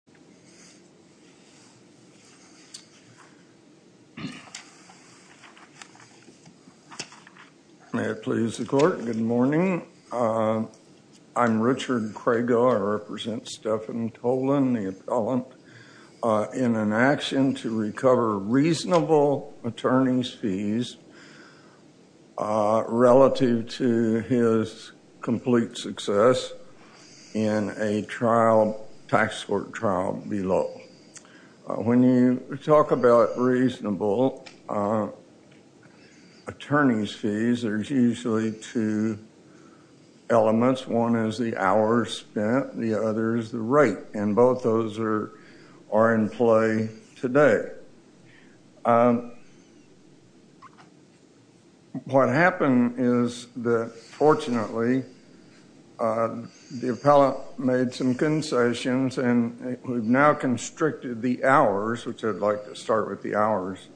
anyone who would like to speak When you talk about reasonable attorney's fees, there's usually two elements. One is the hours spent, the other is the rate, and both those are in play today. What we've done is we've now constricted the hours, which I'd like to start with the hours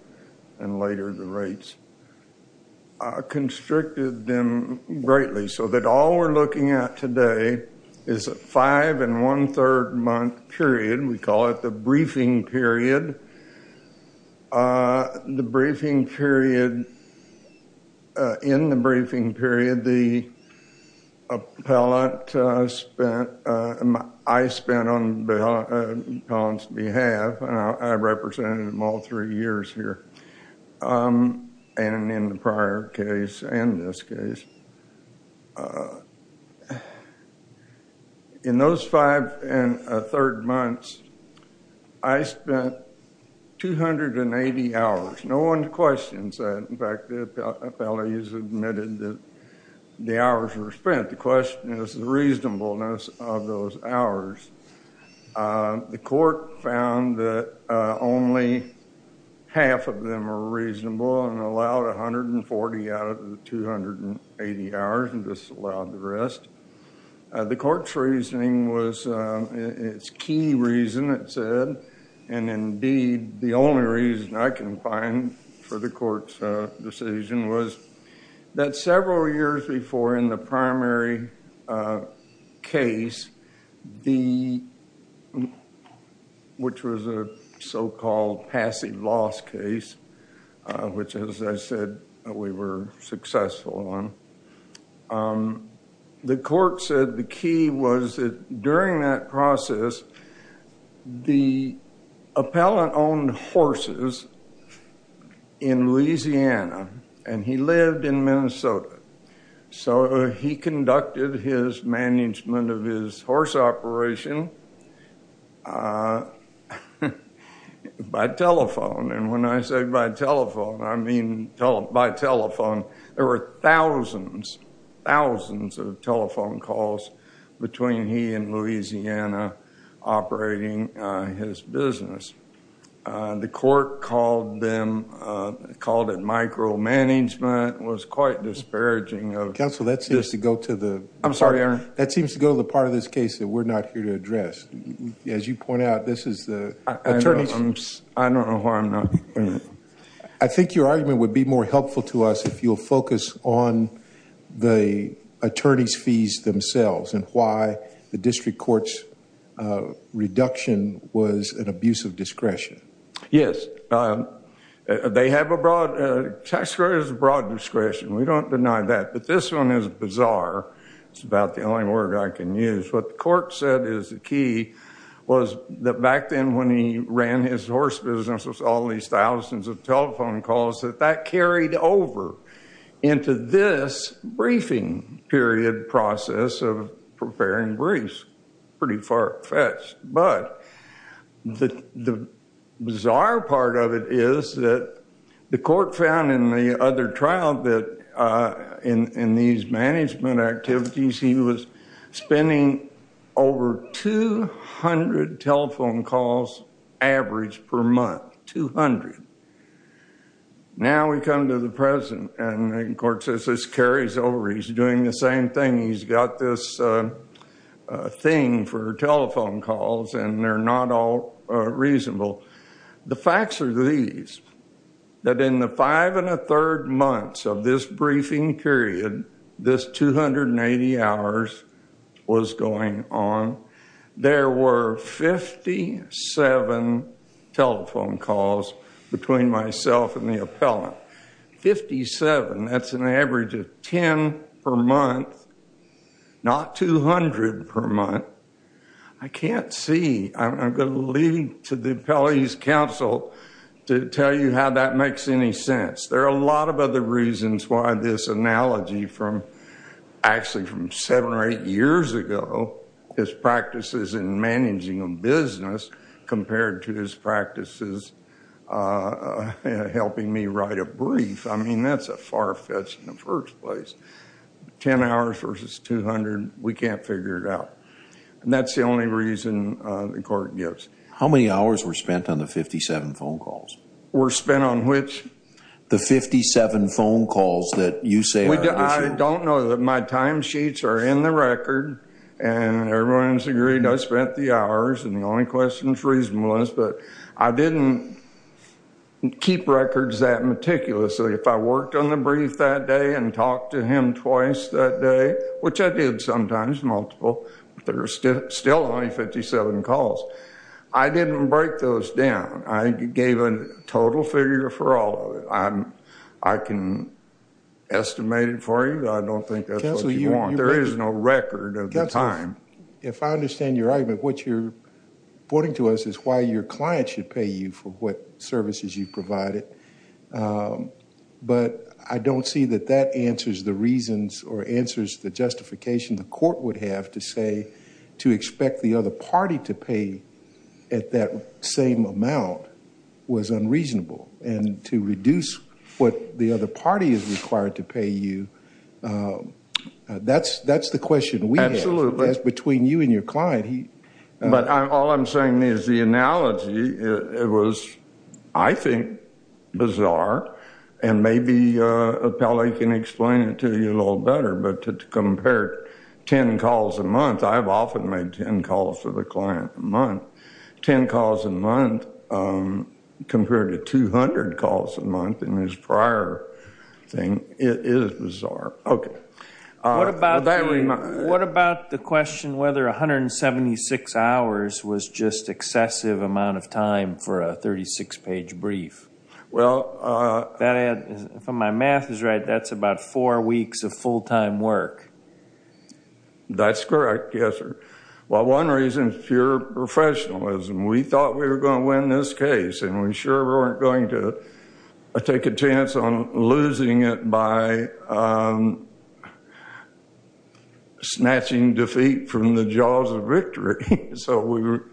and later the rates, constricted them greatly so that all we're looking at today is a five and one-third month period. We call it the briefing period. The briefing period, in the appellant's behalf, and I've represented them all three years here, and in the prior case and this case. In those five and a third months, I spent 280 hours. No one questions that. In fact, the appellate has admitted that the hours were spent. The question is the reasonableness of those hours. The court found that only half of them were reasonable and allowed 140 out of the 280 hours and disallowed the rest. The court's reasoning was, its key reason it said, and indeed the only reason I can find for the court's decision was that several years before in the primary case, which was a so-called passive loss case, which as I said we were successful on, the court said the key was that during that process the appellant owned horses in Louisiana and he lived in Minnesota. So he conducted his management of his horse operation by telephone. And when I say by telephone, I mean by telephone. There were thousands, thousands of telephone calls between he and Louisiana operating his business. The court called them, called it micromanagement, was quite disparaging of... Counsel, that seems to go to the... I'm sorry, Your Honor. That seems to go to the part of this case that we're not here to address. As you point out, this is the attorney's... I don't know who I'm... I think your argument would be more helpful to us if you'll focus on the attorney's fees themselves and why the district court's reduction was an abuse of discretion. Yes. They have a broad... tax credit is a broad discretion. We don't deny that. But this one is bizarre. It's about the only word I can use. What the court said is the key was that back when he ran his horse business with all these thousands of telephone calls, that that carried over into this briefing period process of preparing briefs. Pretty far-fetched. But the bizarre part of it is that the court found in the other trial that in these management activities, he was spending over 200 telephone calls average per month. 200. Now we come to the present, and the court says this carries over. He's doing the same thing. He's got this thing for telephone calls, and they're not all reasonable. The facts are these, that in the five and a third months of this briefing period, this 280 hours was going on, there were 57 telephone calls between myself and the appellant. 57. That's an average of 10 per month, not 200 per month. I can't see. I'm going to leave to the appellate's counsel to tell you how that makes any sense. There are a lot of other reasons why this analogy from actually from seven or eight years ago, his practices in managing a business compared to his practices helping me write a brief. I mean, that's a far-fetched in the first place. 10 hours versus 200, we can't figure it out. And that's the only reason the court gives. How many hours were spent on the 57 phone calls? Were spent on which? The 57 phone calls that you say are unusual. I don't know. My time sheets are in the record, and everyone's agreed I spent the hours, and the only question is reasonableness. But I didn't keep records that meticulously. If I worked on the brief that day and talked to him twice that day, which I did sometimes, multiple, there are still only 57 calls. I didn't break those down. I gave a total figure for all of it. I can estimate it for you. I don't think that's what you want. There is no record of the time. If I understand your argument, what you're pointing to us is why your client should pay you for what services you provided. But I don't see that that answers the reasons or answers the justification the court would have to expect the other party to pay at that same amount was unreasonable. And to reduce what the other party is required to pay you, that's the question we have. That's between you and your client. But all I'm saying is the analogy, it was, I think, bizarre. And maybe Appelli can explain it to you a little better. But to compare 10 calls a month, I've often made 10 calls to the client a month. 10 calls a month compared to 200 calls a month in his prior thing, it is bizarre. Okay. What about the question whether 176 hours was just excessive amount of That's about four weeks of full-time work. That's correct. Yes, sir. Well, one reason is pure professionalism. We thought we were going to win this case, and we sure weren't going to take a chance on losing it by snatching defeat from the jaws of victory. So we were,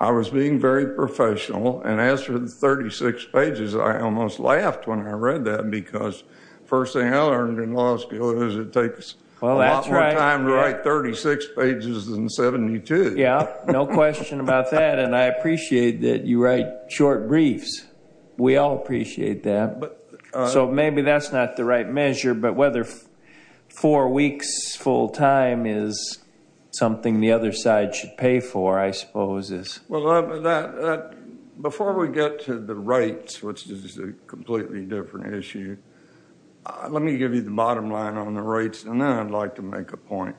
I was being very professional. And as for the 36 pages, I almost laughed when I read that because first thing I learned in law school is it takes a lot more time to write 36 pages than 72. Yeah, no question about that. And I appreciate that you write short briefs. We all appreciate that. So maybe that's not the right measure, but whether four weeks full-time is something the other side should pay for, I suppose is. Well, before we get to the rates, which is a completely different issue, let me give you the bottom line on the rates, and then I'd like to make a point.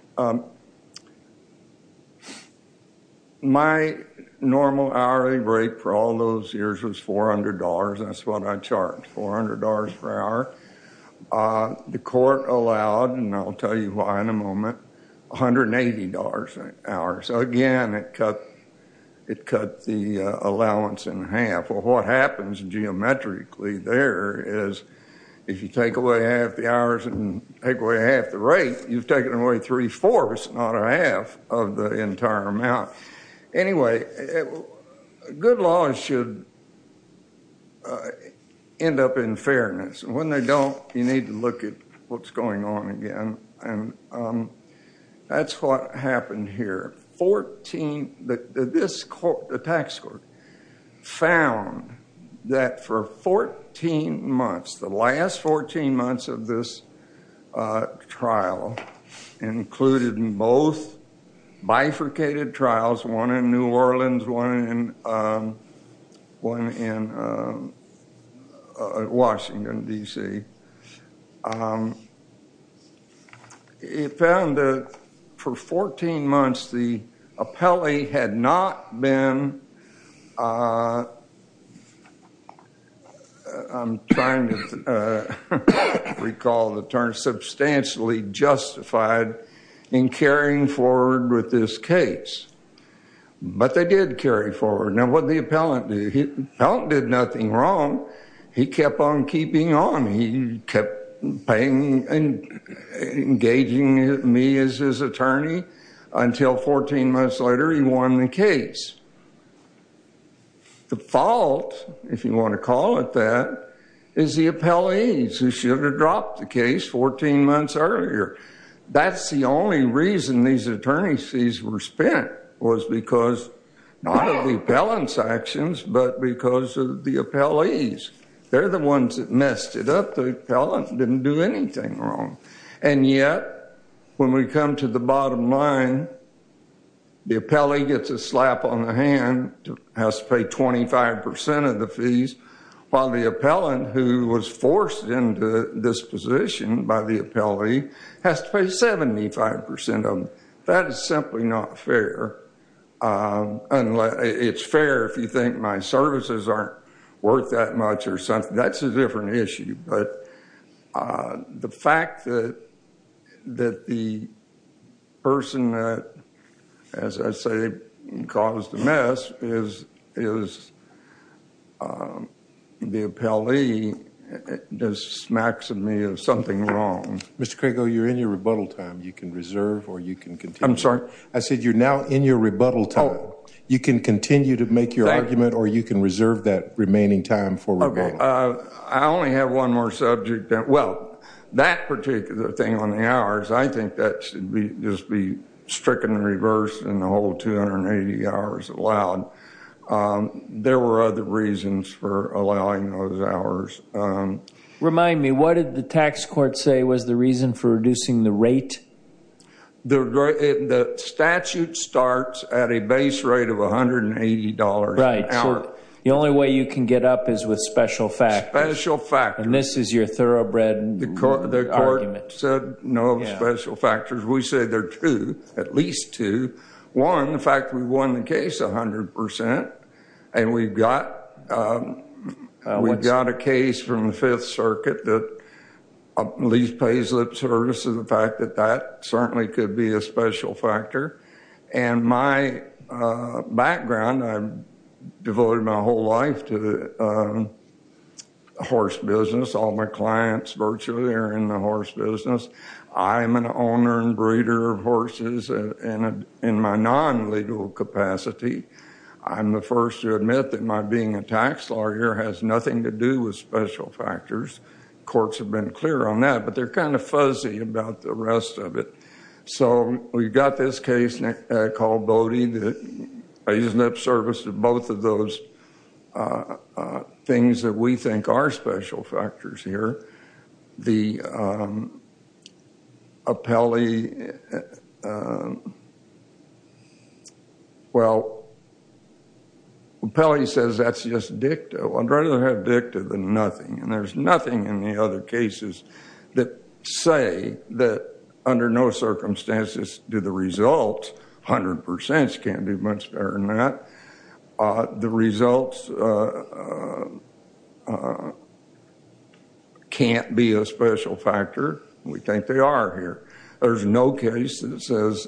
My normal hourly rate for all those years was $400. That's what I charged, $400 per hour. So again, it cut the allowance in half. Well, what happens geometrically there is if you take away half the hours and take away half the rate, you've taken away three-fourths, not a half of the entire amount. Anyway, good laws should end up in fairness. And when they don't, you need to look at what's going on again. And that's what happened here. The tax court found that for 14 months, the last 14 months of this trial included both bifurcated trials, one in New Orleans, one in Washington, D.C. It found that for 14 months, the appellee had not been, I'm trying to recall the term, substantially justified in carrying forward with this case. But they did carry forward. Now, what did the appellant do? The appellant did nothing wrong. He kept on keeping on. He kept paying and engaging me as his attorney until 14 months later he won the case. The fault, if you want to call it that, is the appellees who should have dropped the case 14 months earlier. That's the only reason these attorneys fees were spent, was because, not of the appellant's actions, but because of the appellees. They're the ones that messed it up. The appellant didn't do anything wrong. And yet, when we come to the bottom line, the appellee gets a slap on the hand, has to pay 25% of the fees, while the appellant, who was forced into this position by the appellee, has to pay 75% of them. That is simply not fair. It's fair if you think my services aren't worth that much or something. That's a different issue. But the fact that the person that, as I say, caused the mess is the appellee, just smacks me of something wrong. Mr. Krigo, you're in your rebuttal time. You can reserve or you can continue. I'm sorry? I said you're now in your rebuttal time. You can continue to make your argument or you can reserve that remaining time for rebuttal. Okay. I only have one more subject. Well, that particular thing on the hours, I think that should just be stricken reverse and the whole 280 hours allowed. There were other reasons for allowing those hours. Remind me, what did the tax court say was the reason for reducing the rate? The statute starts at a base rate of $180 an hour. Right. The only way you can get up is with special factors. Special factors. And this is your thoroughbred argument. The court said no special factors. We say there are two, at least two. One, the fact we won the case 100%, and we've got a case from the Fifth Circuit that at least pays lip service to the fact that certainly could be a special factor. And my background, I've devoted my whole life to horse business. All my clients virtually are in the horse business. I'm an owner and breeder of horses in my non-legal capacity. I'm the first to admit that my being a tax lawyer has nothing to do with special factors. Courts have been clear on that, but they're kind of fuzzy about the rest of it. So we've got this case called Bodie that pays lip service to both of those things that we think are special factors here. Well, Pelley says that's just dicta. I'd rather have dicta than nothing. And there's nothing in the other cases that say that under no circumstances do the horses can't be a special factor. We think they are here. There's no case that says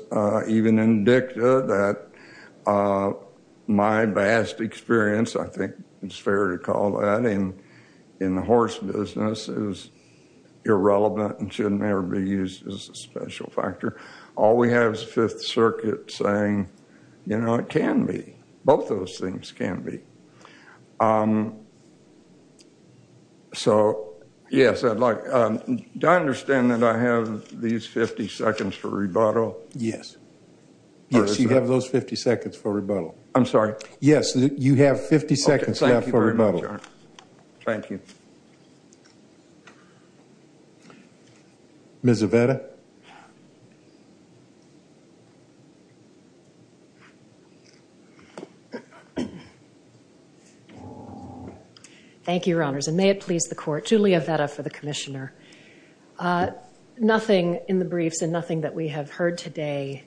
even in dicta that my vast experience, I think it's fair to call that, in the horse business is irrelevant and shouldn't ever be used as a special factor. All we have is Fifth Circuit saying, you know, can be. Both of those things can be. So, yes, I'd like, do I understand that I have these 50 seconds for rebuttal? Yes. Yes, you have those 50 seconds for rebuttal. I'm sorry? Yes, you have 50 seconds left for rebuttal. Thank you. Ms. Avetta? Thank you, Your Honors, and may it please the Court. Julia Avetta for the Commissioner. Nothing in the briefs and nothing that we have heard today,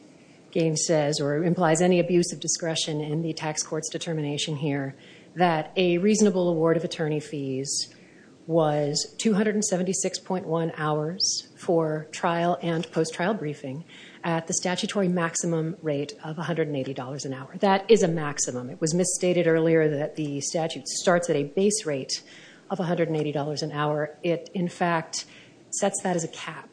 Gaines says, or implies any abuse of discretion in the tax court's determination here that a was 276.1 hours for trial and post-trial briefing at the statutory maximum rate of $180 an hour. That is a maximum. It was misstated earlier that the statute starts at a base rate of $180 an hour. It, in fact, sets that as a cap,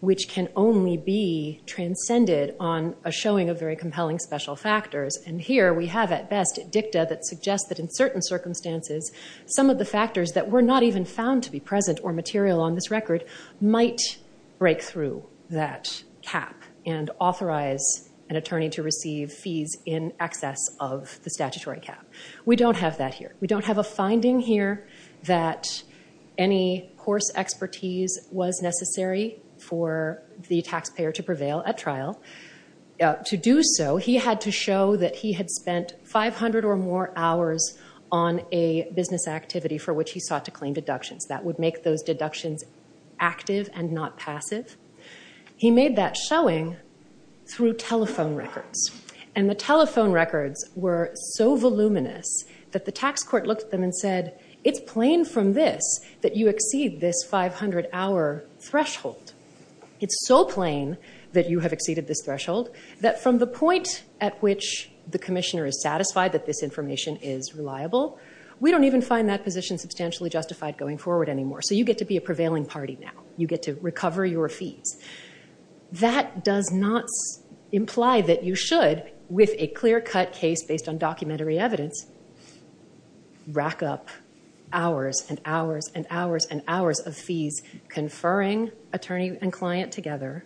which can only be transcended on a showing of very compelling special factors. And here we have, at best, dicta that suggests that in certain circumstances, some of the factors that were not even found to be present or material on this record might break through that cap and authorize an attorney to receive fees in excess of the statutory cap. We don't have that here. We don't have a finding here that any course expertise was necessary for the taxpayer to prevail at trial. To do so, he had to show that he had spent 500 or more hours on a business activity for which he sought to claim deductions. That would make those deductions active and not passive. He made that showing through telephone records. And the telephone records were so voluminous that the tax court looked at them and said, it's plain from this that you exceed this 500-hour threshold. It's so plain that you have exceeded this threshold that from the point at which the commissioner is satisfied that this information is reliable, we don't even find that position substantially justified going forward anymore. So you get to be a prevailing party now. You get to recover your fees. That does not imply that you should, with a clear-cut case based on documentary evidence, rack up hours and hours and hours and hours of fees conferring attorney and client together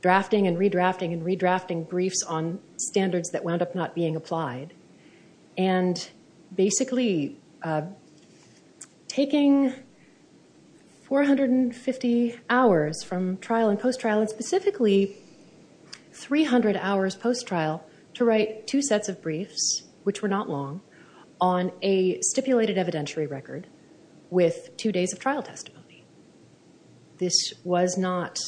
drafting and redrafting and redrafting briefs on standards that wound up not being applied. And basically taking 450 hours from trial and post-trial and specifically 300 hours post-trial to write two sets of briefs, which were not long, on a stipulated evidentiary record with two days of trial testimony. This was not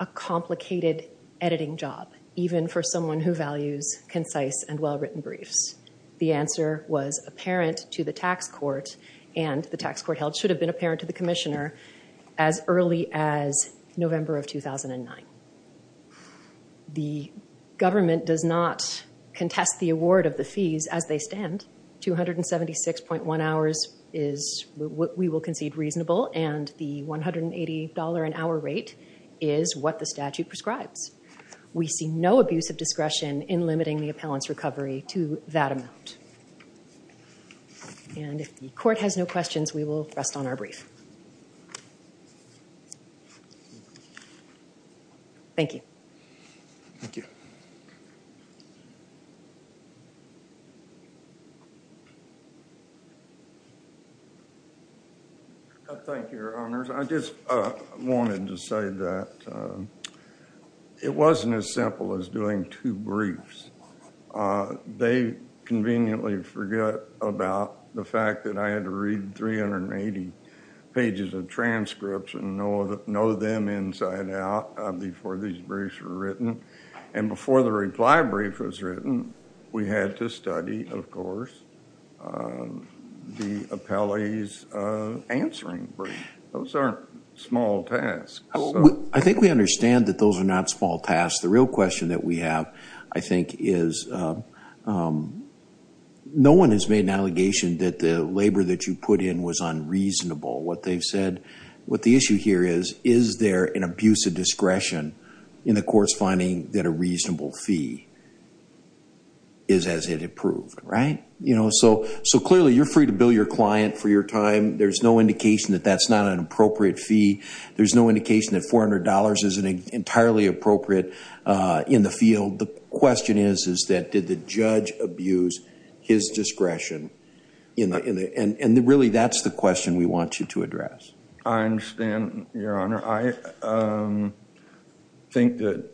a complicated editing job, even for someone who values concise and well-written briefs. The answer was apparent to the tax court and the tax court held should have been apparent to the commissioner as early as November of 2009. The government does not contest the award of the $180 an hour rate is what the statute prescribes. We see no abuse of discretion in limiting the appellant's recovery to that amount. And if the court has no questions, we will rest on our brief. Thank you. Thank you. Thank you, your honors. I just wanted to say that it wasn't as simple as doing two briefs. They conveniently forget about the fact that I had to read 380 pages of transcripts and know them inside out before these briefs were written. And before the reply brief was written, we had to study, of course, the appellee's answering brief. Those aren't small tasks. I think we understand that those are not small tasks. The real question that we have, I think, is no one has made an allegation that the labor that you put in was unreasonable. What they've is, is there an abuse of discretion in the court's finding that a reasonable fee is as it approved, right? So clearly, you're free to bill your client for your time. There's no indication that that's not an appropriate fee. There's no indication that $400 isn't entirely appropriate in the field. The question is, is that did the judge abuse his discretion? And really, that's the question we want you to address. I understand, Your Honor. I think that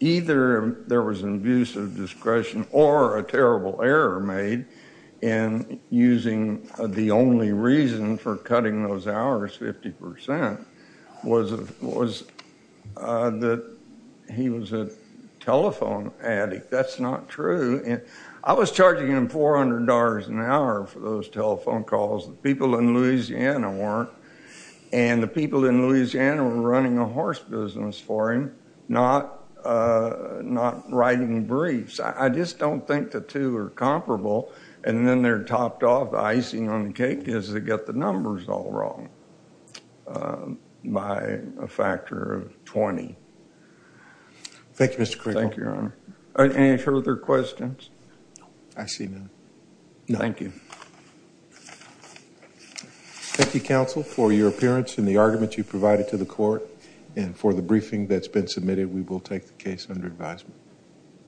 either there was an abuse of discretion or a terrible error made in using the only reason for cutting those hours 50% was that he was a telephone addict. That's not true. I was charging him $400 an hour for those telephone calls. The people in Louisiana weren't. And the people in Louisiana were running a horse business for him, not writing briefs. I just don't think the two are comparable. And then they're topped off, the icing on the cake is they get the numbers all wrong by a factor of 20. Thank you, Mr. Quigle. Thank you, Your Honor. Any further questions? I see none. Thank you. Thank you, counsel, for your appearance and the argument you provided to the court. And for the briefing that's been submitted, we will take the case under advisement.